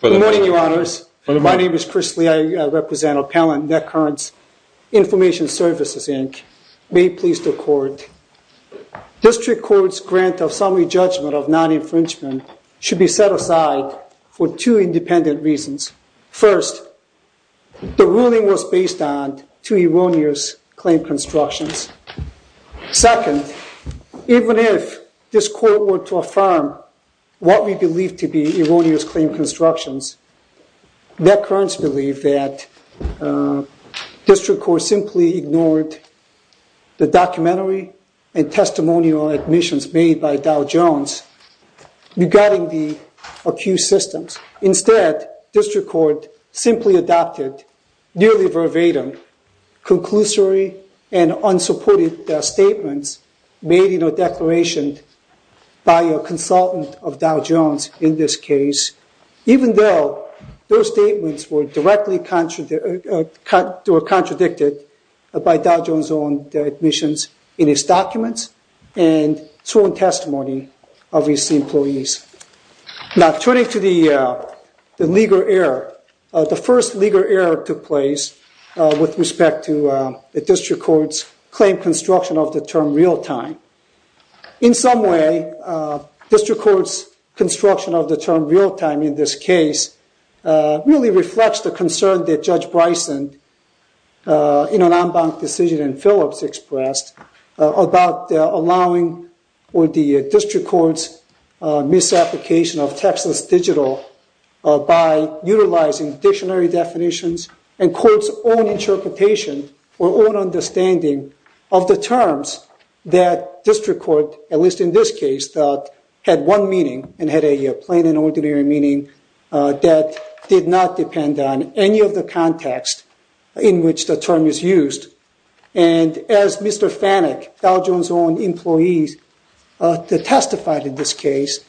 Good morning, Your Honors. My name is Chris Lee. I represent Appellant NetCurrents Information Services, Inc. May it please the Court, District Court's grant of summary judgment of non-infringement should be set aside for two independent reasons. First, the ruling was based on two erroneous claim constructions. Second, even if this Court were to affirm what we believe to be erroneous claim constructions, NetCurrents believe that District Court simply ignored the documentary and testimonial admissions made by Dow Jones regarding the accused systems. Instead, District Court simply adopted nearly verbatim conclusory and unsupported statements made in a declaration by a consultant of Dow Jones in this case, even though those statements were directly contradicted by Dow Jones' own admissions in his documents and sworn testimony of his employees. Now, turning to the legal error, the first legal error took place with respect to the District Court's claim construction of the term real-time. In some way, District Court's construction of the term real-time in this case really reflects the concern that Judge Bryson, in an en banc decision in Phillips, expressed about allowing for the District Court's misapplication of textless digital by utilizing dictionary definitions and court's own interpretation or own understanding of the terms that District Court, at least in this case, thought had one meaning and had a plain and ordinary meaning that did not depend on any of the context in which the term is used. And as Mr. Fanek, Dow Jones' own employee, testified in this case,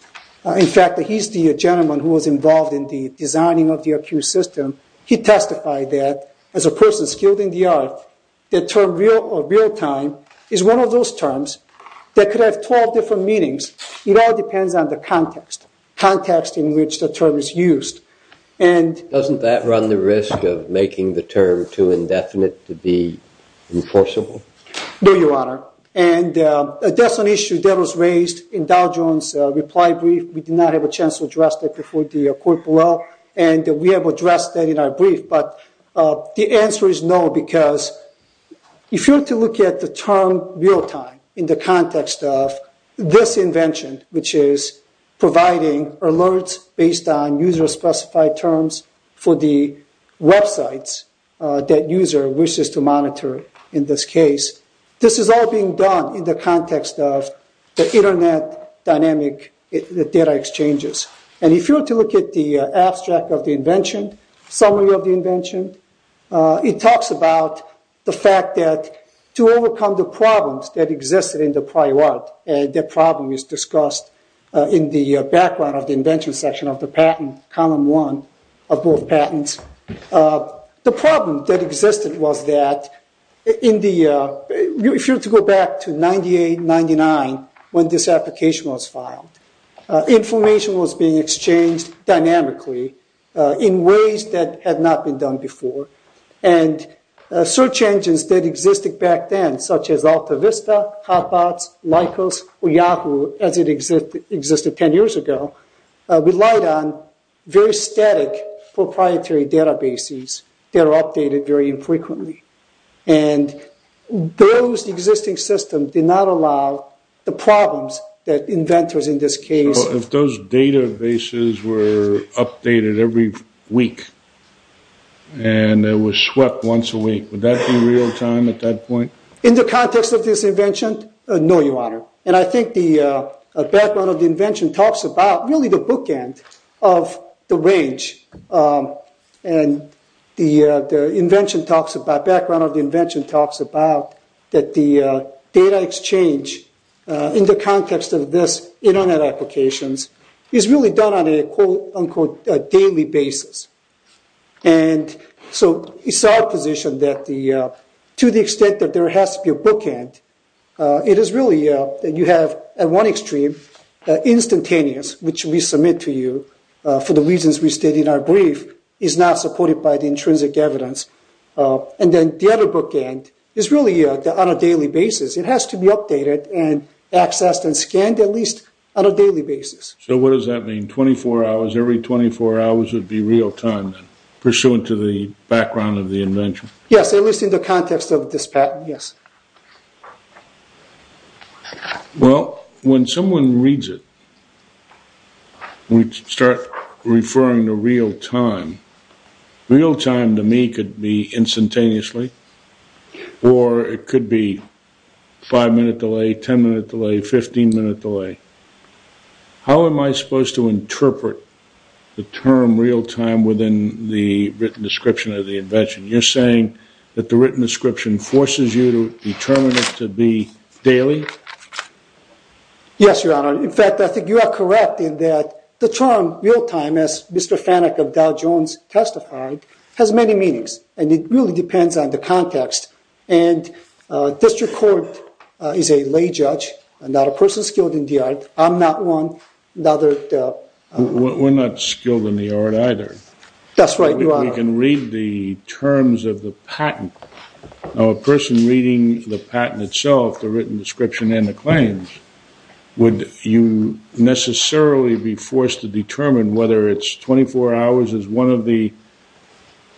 in fact, he's the gentleman who was involved in the designing of the accused system, he testified that as a person skilled in the art, the term real-time is one of those terms that could have 12 different meanings. It all depends on the context, context in which the term is used. Doesn't that run the risk of making the term too indefinite to be enforceable? No, Your Honor. And that's an issue that was raised in Dow Jones' reply brief. We did not have a chance to address that before the court below, and we have addressed that in our brief. But the answer is no, because if you were to look at the term real-time in the context of this invention, which is providing alerts based on user-specified terms for the websites that user wishes to monitor in this case, this is all being done in the context of the Internet dynamic data exchanges. And if you were to look at the abstract of the invention, summary of the invention, it talks about the fact that to overcome the problems that existed in the prior art, and that problem is discussed in the background of the invention section of the patent, column one of both patents, the problem that existed was that if you were to go back to 98, 99, when this application was filed, information was being exchanged dynamically in ways that had not been done before. And search engines that existed back then, such as AltaVista, Hotbots, Lycos, or Yahoo, as it existed 10 years ago, relied on very static proprietary databases that are updated very infrequently. And those existing systems did not allow the problems that inventors in this case... So if those databases were updated every week, and it was swept once a week, would that be real-time at that point? In the context of this invention, no, Your Honor. And I think the background of the invention talks about really the bookend of the range. And the invention talks about... Background of the invention talks about that the data exchange in the context of this Internet applications is really done on a quote-unquote daily basis. And so it's our position that to the extent that there has to be a bookend, it is really that you have, at one extreme, instantaneous, which we submit to you for the reasons we state in our brief, is not supported by the intrinsic evidence. And then the other bookend is really on a daily basis. It has to be updated and accessed and scanned at least on a daily basis. So what does that mean, 24 hours, every 24 hours would be real-time, pursuant to the background of the invention? Yes, at least in the context of this patent, yes. Well, when someone reads it, we start referring to real-time. Real-time to me could be instantaneously, or it could be 5-minute delay, 10-minute delay, 15-minute delay. How am I supposed to interpret the term real-time within the written description of the invention? You're saying that the written description forces you to determine it to be daily? Yes, Your Honor. In fact, I think you are correct in that the term real-time, as Mr. Fanek of Dow Jones testified, has many meanings. And it really depends on the context. And district court is a lay judge, not a person skilled in the art. I'm not one. That's right, Your Honor. We can read the terms of the patent. Now, a person reading the patent itself, the written description and the claims, would you necessarily be forced to determine whether it's 24 hours as one of the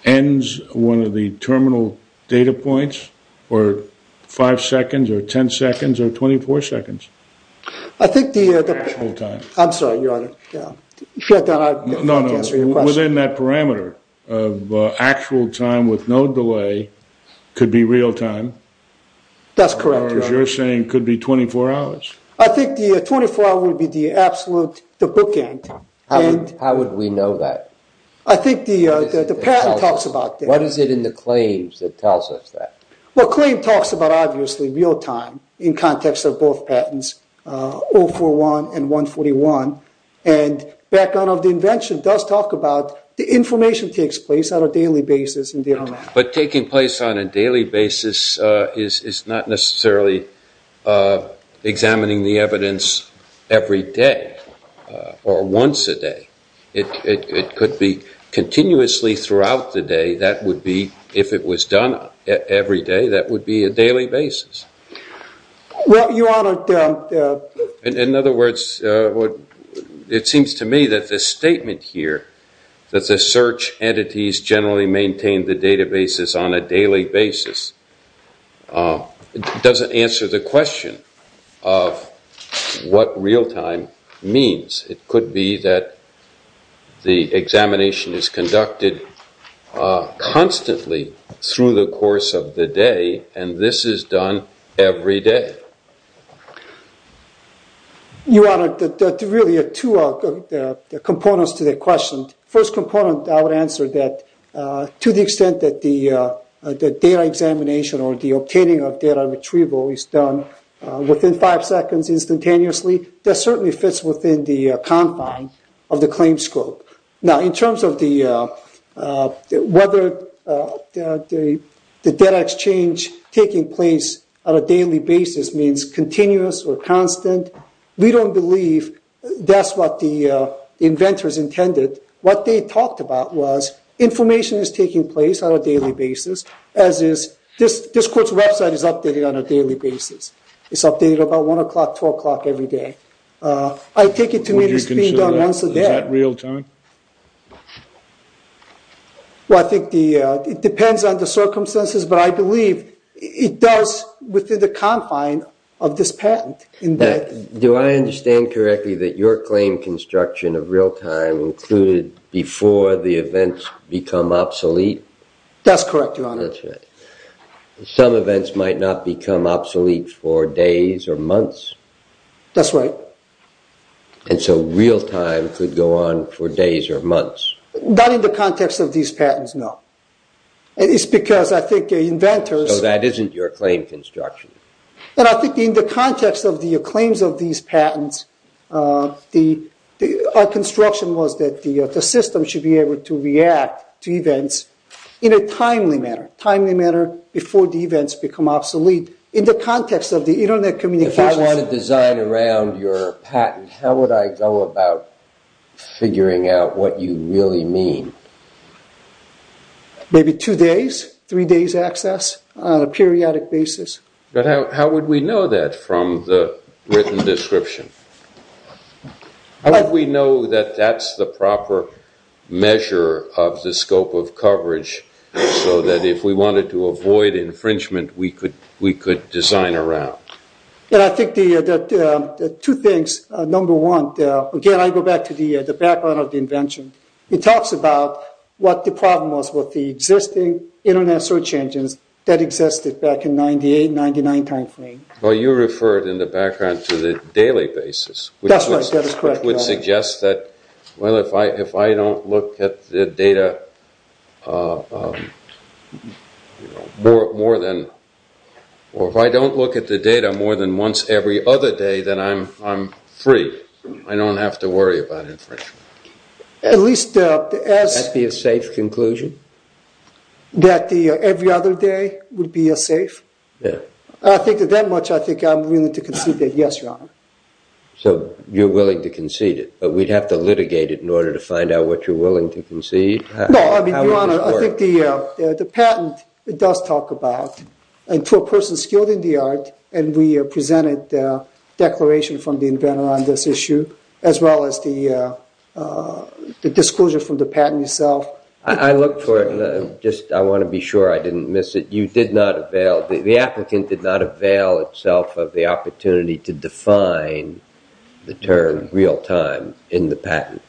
ends, one of the terminal data points, or 5 seconds or 10 seconds or 24 seconds? I think the... I'm sorry, Your Honor. No, no. Within that parameter of actual time with no delay could be real-time? That's correct, Your Honor. Or as you're saying, could be 24 hours? I think the 24-hour would be the absolute, the bookend. How would we know that? I think the patent talks about that. What is it in the claims that tells us that? Well, claim talks about, obviously, real-time in context of both patents, 041 and 141. And background of the invention does talk about the information takes place on a daily basis. But taking place on a daily basis is not necessarily examining the evidence every day or once a day. It could be continuously throughout the day. That would be, if it was done every day, that would be a daily basis. Well, Your Honor... In other words, it seems to me that this statement here, that the search entities generally maintain the databases on a daily basis, doesn't answer the question of what real-time means. It could be that the examination is conducted constantly through the course of the day, and this is done every day. Your Honor, there are really two components to that question. First component, I would answer that to the extent that the data examination or the obtaining of data retrieval is done within five seconds instantaneously, that certainly fits within the confines of the claim scope. Now, in terms of whether the data exchange taking place on a daily basis means continuous or constant, we don't believe that's what the inventors intended. What they talked about was information is taking place on a daily basis, as is this court's website is updated on a daily basis. It's updated about 1 o'clock, 12 o'clock every day. I take it to mean it's being done once a day. Would you consider that real-time? Well, I think it depends on the circumstances, but I believe it does within the confines of this patent. Do I understand correctly that your claim construction of real-time That's correct, Your Honor. Some events might not become obsolete for days or months? That's right. And so real-time could go on for days or months? Not in the context of these patents, no. It's because I think inventors... So that isn't your claim construction? And I think in the context of the claims of these patents, our construction was that the system should be able to react to events in a timely manner, timely manner before the events become obsolete. In the context of the Internet communications... If I want to design around your patent, how would I go about figuring out what you really mean? Maybe two days, three days' access on a periodic basis. But how would we know that from the written description? How would we know that that's the proper measure of the scope of coverage so that if we wanted to avoid infringement, we could design around? I think two things. Number one, again, I go back to the background of the invention. It talks about what the problem was with the existing Internet search engines that existed back in 98, 99 timeframe. Well, you referred in the background to the daily basis... That's right. That is correct. ...which would suggest that, well, if I don't look at the data more than... or if I don't look at the data more than once every other day, then I'm free. I don't have to worry about infringement. At least... Would that be a safe conclusion? That every other day would be a safe? Yeah. I think that that much, I think I'm willing to concede that, yes, Your Honor. So you're willing to concede it, but we'd have to litigate it in order to find out what you're willing to concede? No, I mean, Your Honor, I think the patent does talk about, and to a person skilled in the art, and we presented the declaration from the inventor on this issue, as well as the disclosure from the patent itself. Well, I looked for it, and I want to be sure I didn't miss it. You did not avail... The applicant did not avail itself of the opportunity to define the term real-time in the patent.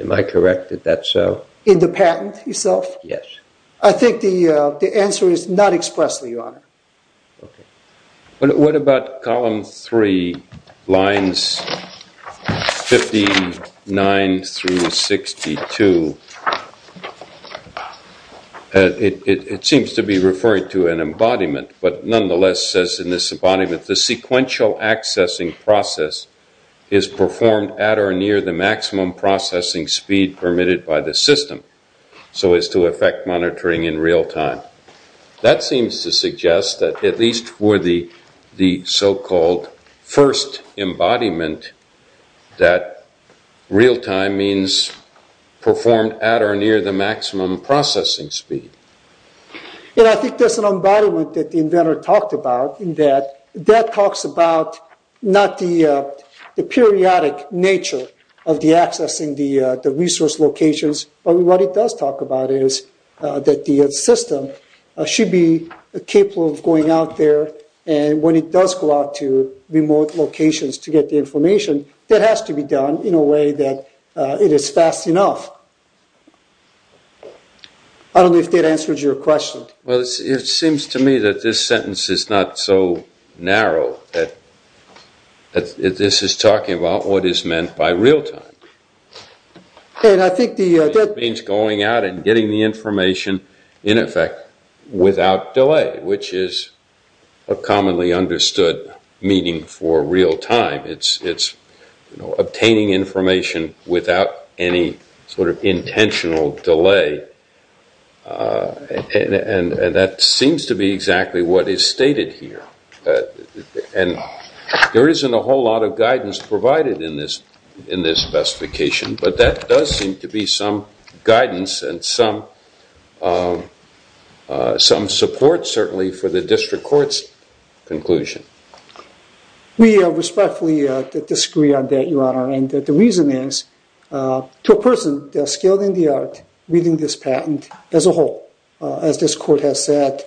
Am I correct? Is that so? In the patent itself? I think the answer is not expressly, Your Honor. What about column three, lines 59 through 62? It seems to be referring to an embodiment, but nonetheless says in this embodiment, the sequential accessing process is performed at or near the maximum processing speed permitted by the system, so as to affect monitoring in real time. That seems to suggest that at least for the so-called first embodiment, that real-time means performed at or near the maximum processing speed. I think that's an embodiment that the inventor talked about, in that that talks about not the periodic nature of the access in the resource locations, but what it does talk about is that the system should be capable of going out there, and when it does go out to remote locations to get the information, that has to be done in a way that it is fast enough. I don't know if that answers your question. Well, it seems to me that this sentence is not so narrow, that this is talking about what is meant by real-time. I think that means going out and getting the information in effect without delay, which is a commonly understood meaning for real-time. It's obtaining information without any sort of intentional delay, and that seems to be exactly what is stated here. There isn't a whole lot of guidance provided in this specification, but that does seem to be some guidance and some support, certainly, for the district court's conclusion. We respectfully disagree on that, Your Honor, and the reason is to a person skilled in the art reading this patent as a whole. As this court has said,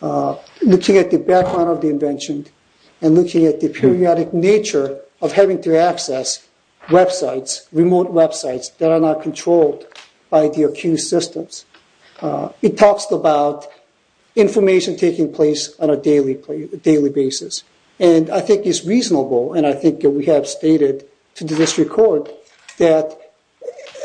looking at the background of the invention and looking at the periodic nature of having to access websites, remote websites that are not controlled by the accused systems, it talks about information taking place on a daily basis, and I think it's reasonable, and I think we have stated to the district court, that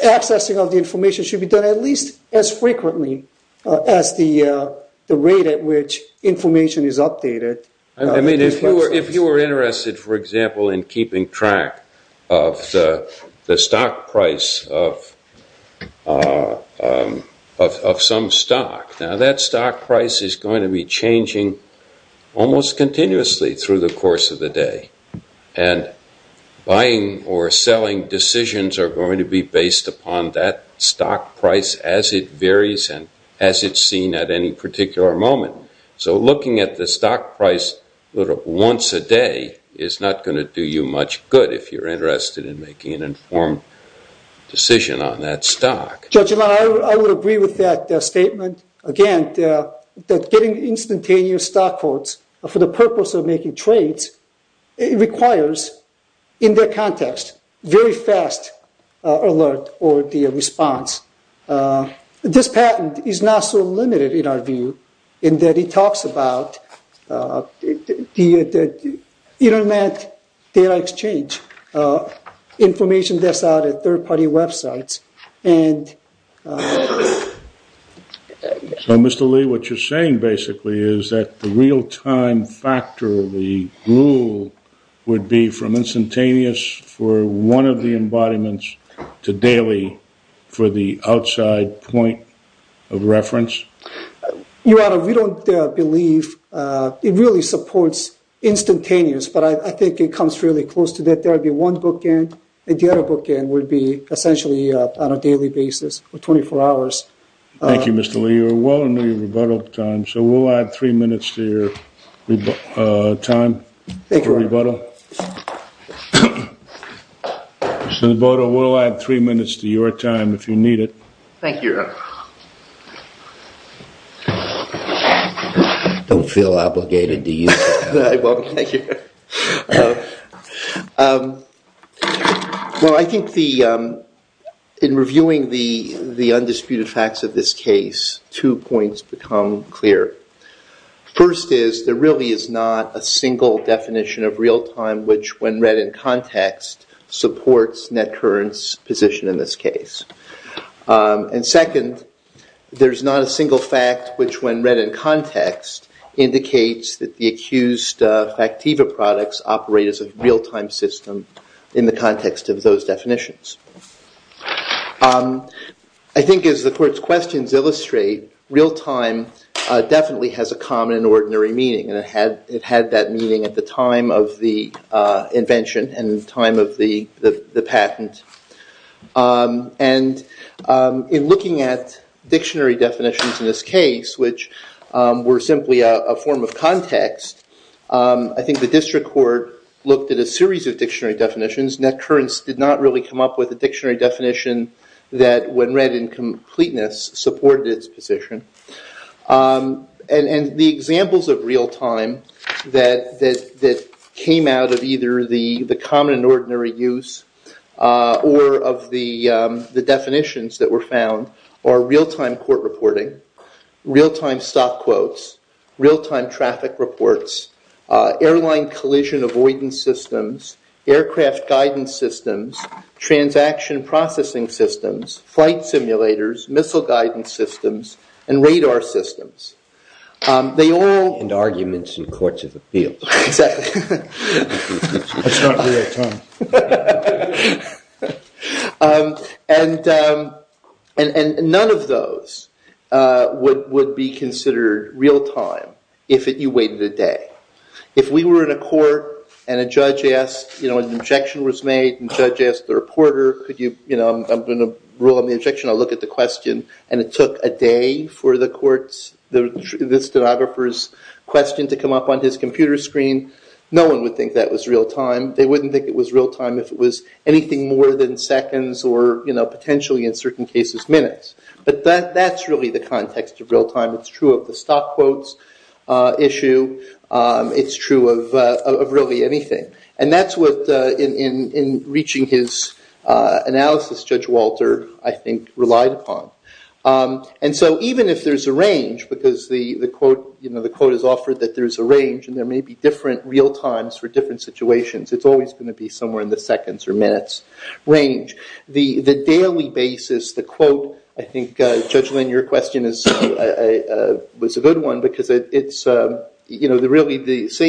accessing of the information should be done at least as frequently as the rate at which information is updated. I mean, if you were interested, for example, in keeping track of the stock price of some stock, now that stock price is going to be changing almost continuously through the course of the day, and buying or selling decisions are going to be based upon that stock price as it varies and as it's seen at any particular moment. So looking at the stock price once a day is not going to do you much good if you're interested in making an informed decision on that stock. Judge, I would agree with that statement. Again, getting instantaneous stock quotes for the purpose of making trades requires, in that context, very fast alert or the response. This patent is not so limited in our view in that it talks about the Internet data exchange, information that's out at third-party websites. So, Mr. Lee, what you're saying basically is that the real-time factor, the rule would be from instantaneous for one of the embodiments to daily for the outside point of reference? Your Honor, we don't believe it really supports instantaneous, but I think it comes fairly close to that. There would be one bookend, and the other bookend would be essentially on a daily basis for 24 hours. Thank you, Mr. Lee. You're well into your rebuttal time, so we'll add three minutes to your time for rebuttal. Thank you, Your Honor. Mr. Naboto, we'll add three minutes to your time if you need it. Thank you, Your Honor. Don't feel obligated to use that. I won't. Thank you. Well, I think in reviewing the undisputed facts of this case, two points become clear. First is, there really is not a single definition of real-time which, when read in context, supports NetCurrent's position in this case. And second, there's not a single fact which, when read in context, indicates that the accused factiva products operate as a real-time system in the context of those definitions. I think, as the Court's questions illustrate, real-time definitely has a common and ordinary meaning, and it had that meaning at the time of the invention and the time of the patent. And in looking at dictionary definitions in this case, which were simply a form of context, I think the District Court looked at a series of dictionary definitions. NetCurrent did not really come up with a dictionary definition that, when read in completeness, supported its position. And the examples of real-time that came out of either the common and ordinary use or of the definitions that were found are real-time court reporting, real-time stop quotes, real-time traffic reports, airline collision avoidance systems, aircraft guidance systems, transaction processing systems, flight simulators, missile guidance systems, and radar systems. And arguments in courts of appeals. Exactly. That's not real-time. And none of those would be considered real-time if you waited a day. If we were in a court and an objection was made and a judge asked the reporter, I'm going to rule on the objection, I'll look at the question, and it took a day for the stenographer's question to come up on his computer screen, no one would think that was real-time. They wouldn't think it was real-time if it was anything more than seconds or, potentially in certain cases, minutes. But that's really the context of real-time. It's true of the stop quotes issue. It's true of really anything. And that's what, in reaching his analysis, Judge Walter, I think, relied upon. And so even if there's a range, because the quote is offered that there's a range and there may be different real-times for different situations, it's always going to be somewhere in the seconds or minutes range. The daily basis, the quote, I think, Judge Lynn, your question was a good one, because saying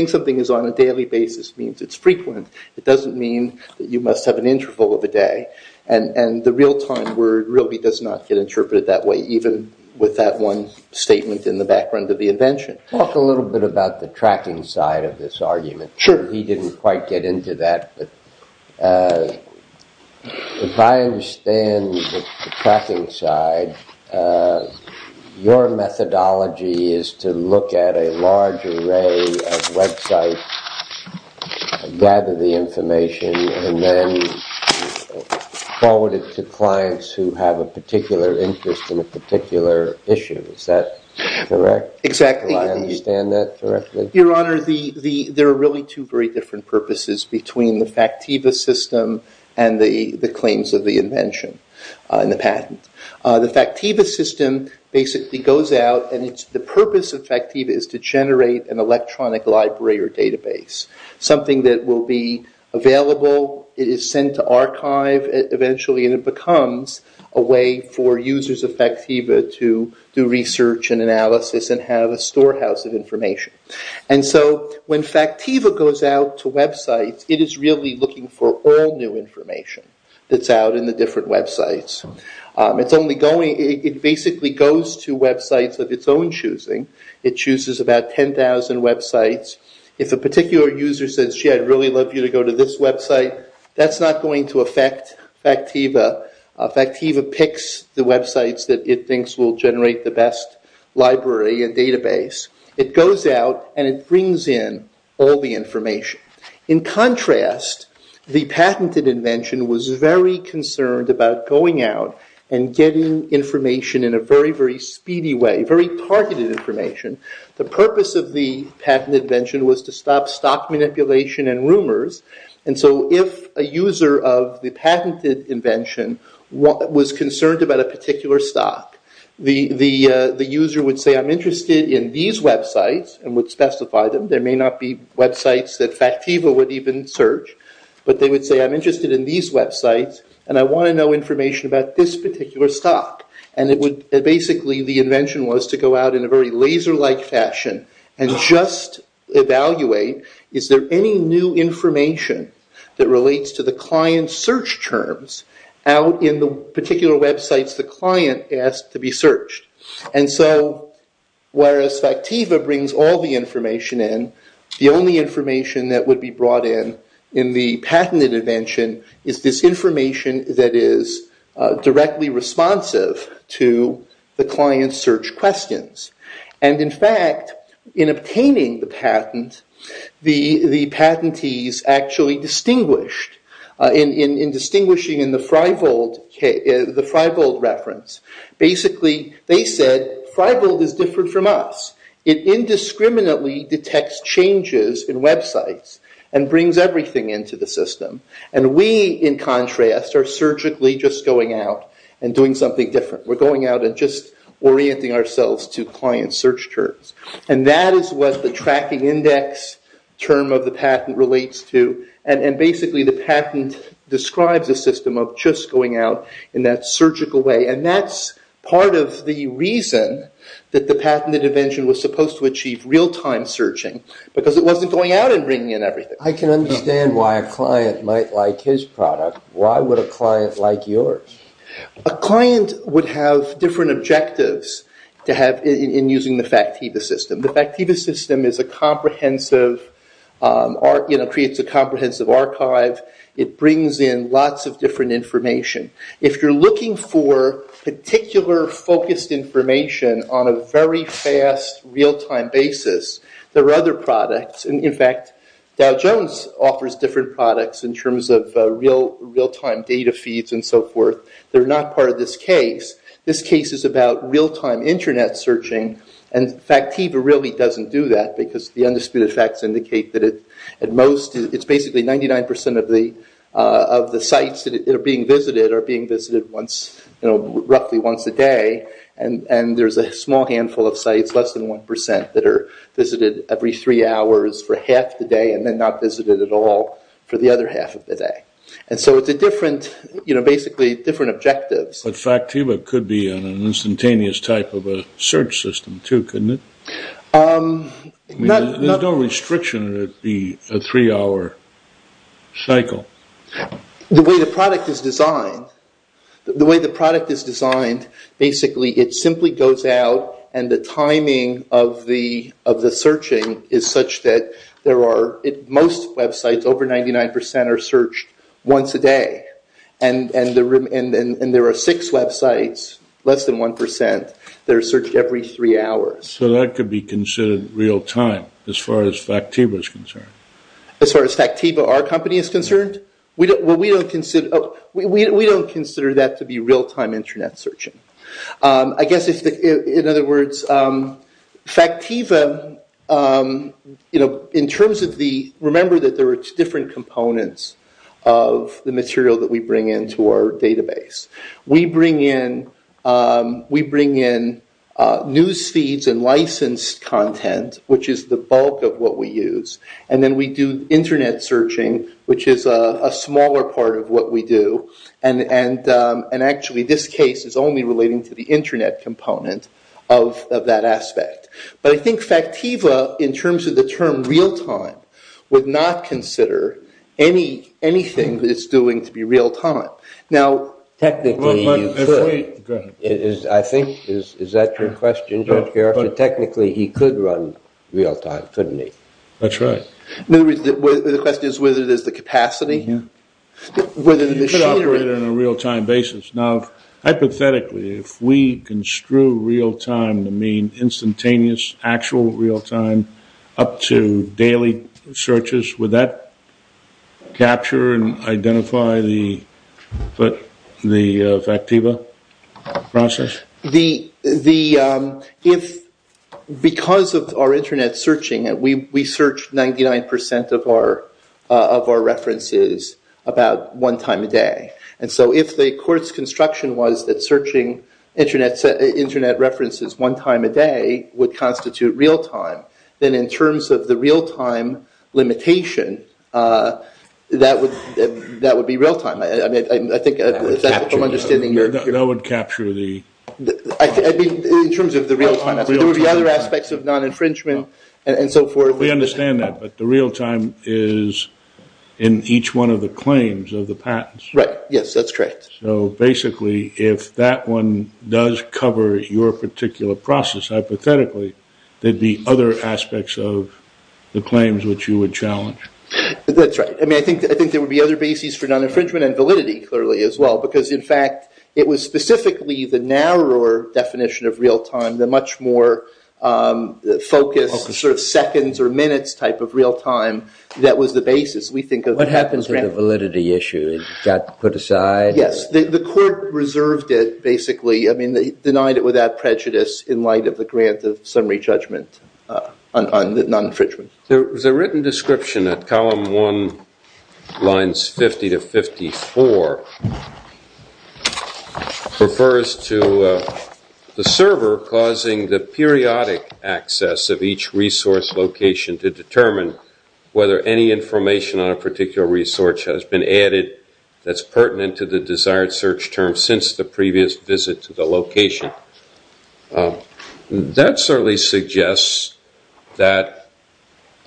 something is on a daily basis means it's frequent. It doesn't mean that you must have an interval of a day. And the real-time word really does not get interpreted that way, even with that one statement in the background of the invention. Sure. He didn't quite get into that, but if I understand the tracking side, your methodology is to look at a large array of websites, gather the information, and then forward it to clients who have a particular interest in a particular issue. Is that correct? Exactly. Do I understand that correctly? Your Honor, there are really two very different purposes between the Factiva system and the claims of the invention and the patent. The Factiva system basically goes out, and the purpose of Factiva is to generate an electronic library or database, something that will be available, it is sent to archive eventually, and it becomes a way for users of Factiva to do research and analysis and have a storehouse of information. And so when Factiva goes out to websites, it is really looking for all new information that's out in the different websites. It basically goes to websites of its own choosing. It chooses about 10,000 websites. If a particular user says, gee, I'd really love you to go to this website, that's not going to affect Factiva. Factiva picks the websites that it thinks will generate the best library and database. It goes out, and it brings in all the information. In contrast, the patented invention was very concerned about going out and getting information in a very, very speedy way, very targeted information. The purpose of the patent invention was to stop stock manipulation and rumors, and so if a user of the patented invention was concerned about a particular stock, the user would say, I'm interested in these websites, and would specify them. There may not be websites that Factiva would even search, but they would say, I'm interested in these websites, and I want to know information about this particular stock. And basically the invention was to go out in a very laser-like fashion and just evaluate, is there any new information that relates to the client's search terms out in the particular websites the client asked to be searched. And so whereas Factiva brings all the information in, the only information that would be brought in in the patented invention is this information that is directly responsive to the client's search questions. And in fact, in obtaining the patent, the patentees actually distinguished, in distinguishing in the Freibold reference, basically they said, Freibold is different from us. It indiscriminately detects changes in websites and brings everything into the system. And we, in contrast, are surgically just going out and doing something different. We're going out and just orienting ourselves to client search terms. And that is what the tracking index term of the patent relates to. And basically the patent describes a system of just going out in that surgical way. And that's part of the reason that the patented invention was supposed to achieve real-time searching, because it wasn't going out and bringing in everything. I can understand why a client might like his product. Why would a client like yours? A client would have different objectives in using the Factiva system. The Factiva system is a comprehensive, creates a comprehensive archive. It brings in lots of different information. If you're looking for particular focused information on a very fast, real-time basis, there are other products. In fact, Dow Jones offers different products in terms of real-time data feeds and so forth. They're not part of this case. This case is about real-time internet searching. And Factiva really doesn't do that, because the undisputed facts indicate that at most, it's basically 99% of the sites that are being visited are being visited roughly once a day. And there's a small handful of sites, less than 1%, that are visited every three hours for half the day and then not visited at all for the other half of the day. And so it's a different, you know, basically different objectives. But Factiva could be an instantaneous type of a search system, too, couldn't it? There's no restriction that it be a three-hour cycle. The way the product is designed, basically it simply goes out and the timing of the searching is such that most websites, over 99%, are searched once a day. And there are six websites, less than 1%, that are searched every three hours. So that could be considered real-time as far as Factiva is concerned? As far as Factiva, our company, is concerned? Well, we don't consider that to be real-time internet searching. I guess, in other words, Factiva, you know, in terms of the... Remember that there are different components of the material that we bring into our database. We bring in news feeds and licensed content, which is the bulk of what we use. And then we do internet searching, which is a smaller part of what we do. And actually, this case is only relating to the internet component of that aspect. But I think Factiva, in terms of the term real-time, would not consider anything that it's doing to be real-time. Now, technically, you could. I think, is that your question? Technically, he could run real-time, couldn't he? That's right. The question is whether there's the capacity? You could operate it on a real-time basis. Now, hypothetically, if we construe real-time to mean instantaneous actual real-time up to daily searches, would that capture and identify the Factiva process? Because of our internet searching, we search 99% of our references about one time a day. And so if the court's construction was that searching internet references one time a day would constitute real-time, then in terms of the real-time limitation, that would be real-time. That would capture the... I mean, in terms of the real-time. There would be other aspects of non-infringement and so forth. We understand that. But the real-time is in each one of the claims of the patents. Right. Yes, that's correct. So basically, if that one does cover your particular process, hypothetically, there'd be other aspects of the claims which you would challenge. That's right. I mean, I think there would be other bases for non-infringement and validity, clearly, as well. Because, in fact, it was specifically the narrower definition of real-time, the much more focused sort of seconds or minutes type of real-time, that was the basis. What happened to the validity issue? It got put aside? Yes. The court reserved it, basically. I mean, they denied it without prejudice in light of the grant of summary judgment on non-infringement. There was a written description that Column 1, Lines 50 to 54, refers to the server causing the periodic access of each resource location to determine whether any information on a particular resource has been added that's pertinent to the desired search term since the previous visit to the location. That certainly suggests that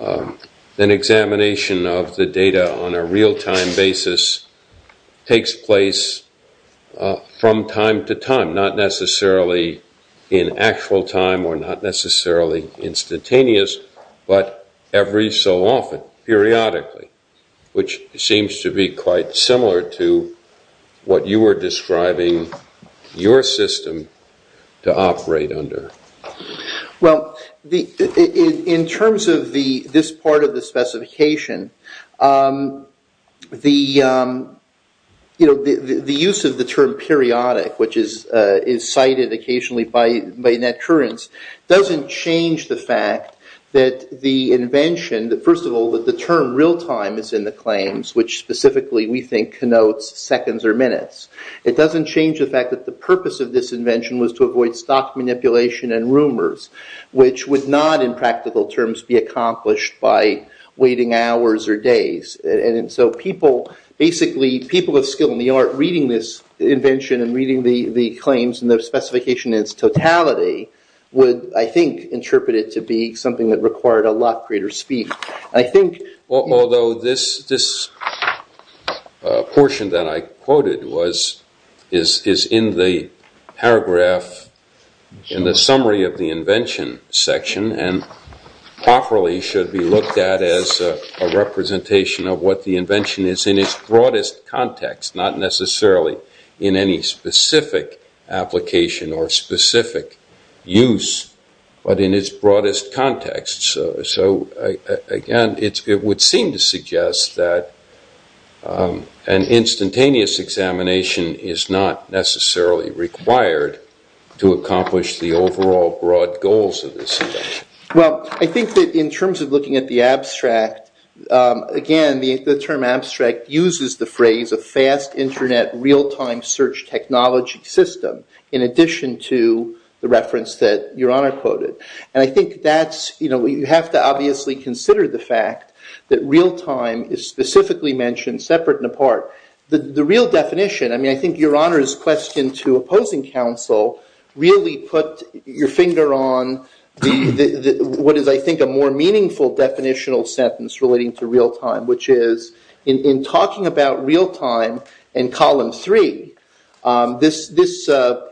an examination of the data on a real-time basis takes place from time to time, not necessarily in actual time or not necessarily instantaneous, but every so often, periodically, which seems to be quite similar to what you were describing your system to operate under. Well, in terms of this part of the specification, the use of the term periodic, which is cited occasionally by net currents, doesn't change the fact that the invention, first of all, that the term real-time is in the claims, which specifically, we think, connotes seconds or minutes. It doesn't change the fact that the purpose of this invention was to avoid stock manipulation and rumors, which would not, in practical terms, be accomplished by waiting hours or days. Basically, people with skill in the art reading this invention and reading the claims and the specification in its totality would, I think, interpret it to be something that required a lot greater speed. Although this portion that I quoted is in the paragraph in the summary of the invention section and properly should be looked at as a representation of what the invention is in its broadest context, not necessarily in any specific application or specific use, but in its broadest context. So, again, it would seem to suggest that an instantaneous examination is not necessarily required to accomplish the overall broad goals of this invention. Well, I think that in terms of looking at the abstract, again, the term abstract uses the phrase of fast internet real-time search technology system in addition to the reference that Your Honor quoted. And I think that's, you know, you have to obviously consider the fact that real-time is specifically mentioned separate and apart. The real definition, I mean, I think Your Honor's question to opposing counsel really put your finger on what is, I think, a more meaningful definitional sentence relating to real-time, which is in talking about real-time in column three, this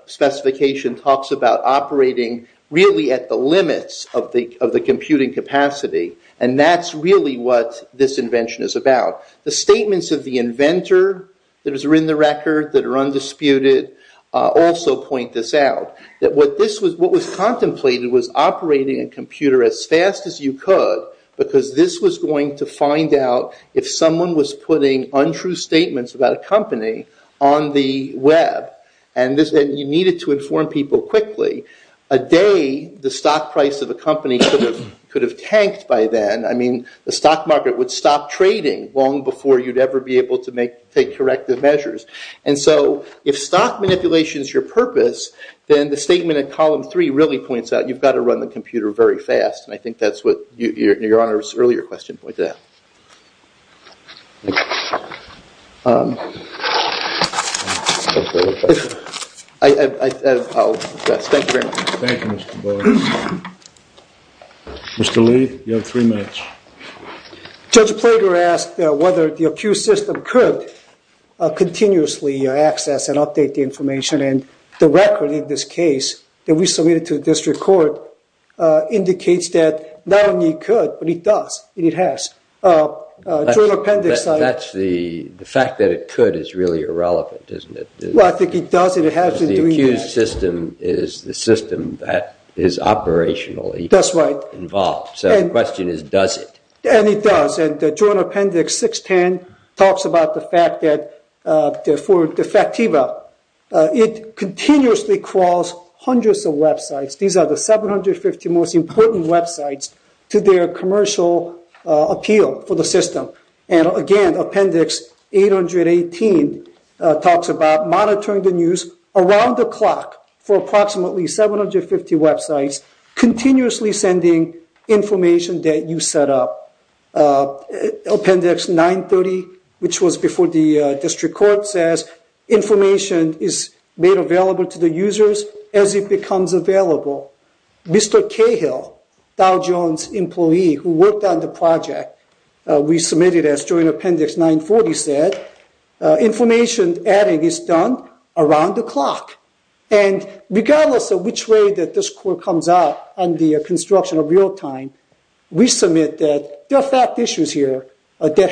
specification talks about operating really at the limits of the computing capacity. And that's really what this invention is about. The statements of the inventor that are in the record, that are undisputed, also point this out. That what was contemplated was operating a computer as fast as you could because this was going to find out if someone was putting untrue statements about a company on the web. And you needed to inform people quickly. A day, the stock price of a company could have tanked by then. I mean, the stock market would stop trading long before you'd ever be able to take corrective measures. And so if stock manipulation is your purpose, then the statement in column three really points out you've got to run the computer very fast. And I think that's what Your Honor's earlier question pointed out. I'll address. Thank you very much. Thank you, Mr. Boyd. Mr. Lee, you have three minutes. Judge Plager asked whether the accused system could continuously access and update the information. And the record in this case that we submitted to the district court indicates that not only could, but it does and it has. That's the fact that it could is really irrelevant, isn't it? Well, I think it does and it has. The accused system is the system that is operationally involved. That's right. So the question is, does it? And it does. And Joint Appendix 610 talks about the fact that for De Factiva, it continuously crawls hundreds of websites. These are the 750 most important websites to their commercial appeal for the system. And again, Appendix 818 talks about monitoring the news around the clock for approximately 750 websites, continuously sending information that you set up. Appendix 930, which was before the district court, says information is made available to the users as it becomes available. Mr. Cahill, Dow Jones employee who worked on the project, we submitted as Joint Appendix 940 said, information adding is done around the clock. And regardless of which way that this court comes out on the construction of real time, we submit that there are fact issues here that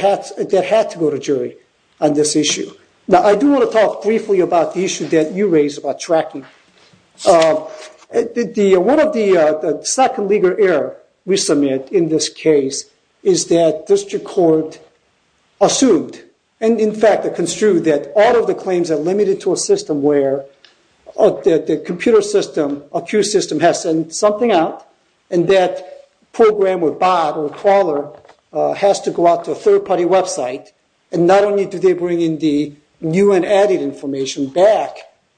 have to go to jury on this issue. Now, I do want to talk briefly about the issue that you raised about tracking. One of the second legal error we submit in this case is that district court assumed, and in fact construed that all of the claims are limited to a system where the computer system, accused system has sent something out and that program or bot or crawler has to go out to a third party website. And not only do they bring in the new and added information back,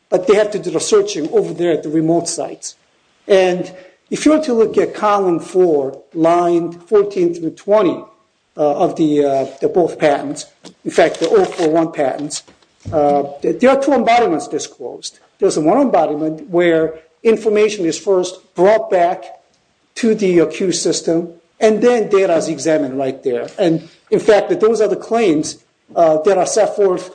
but they have to do the searching over there at the remote sites. And if you were to look at column four, line 14 through 20 of the both patents, in fact the 041 patents, there are two embodiments disclosed. There's one embodiment where information is first brought back to the accused system and then data is examined right there. And in fact, those are the claims that are set forth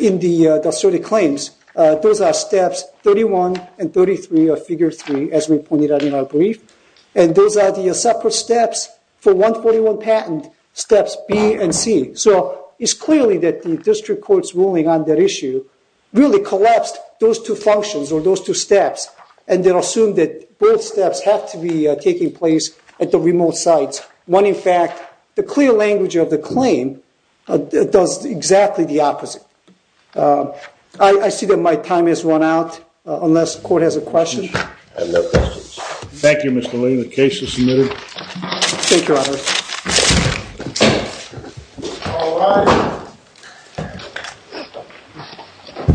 in the asserted claims. Those are steps 31 and 33 of figure three, as we pointed out in our brief. And those are the separate steps for 141 patent steps B and C. So it's clearly that the district court's ruling on that issue really collapsed those two functions or those two steps and then assumed that both steps have to be taking place at the remote sites. When, in fact, the clear language of the claim does exactly the opposite. I see that my time has run out unless the court has a question. I have no questions. Thank you, Mr. Lee. The case is submitted. Thank you, Your Honor. All rise.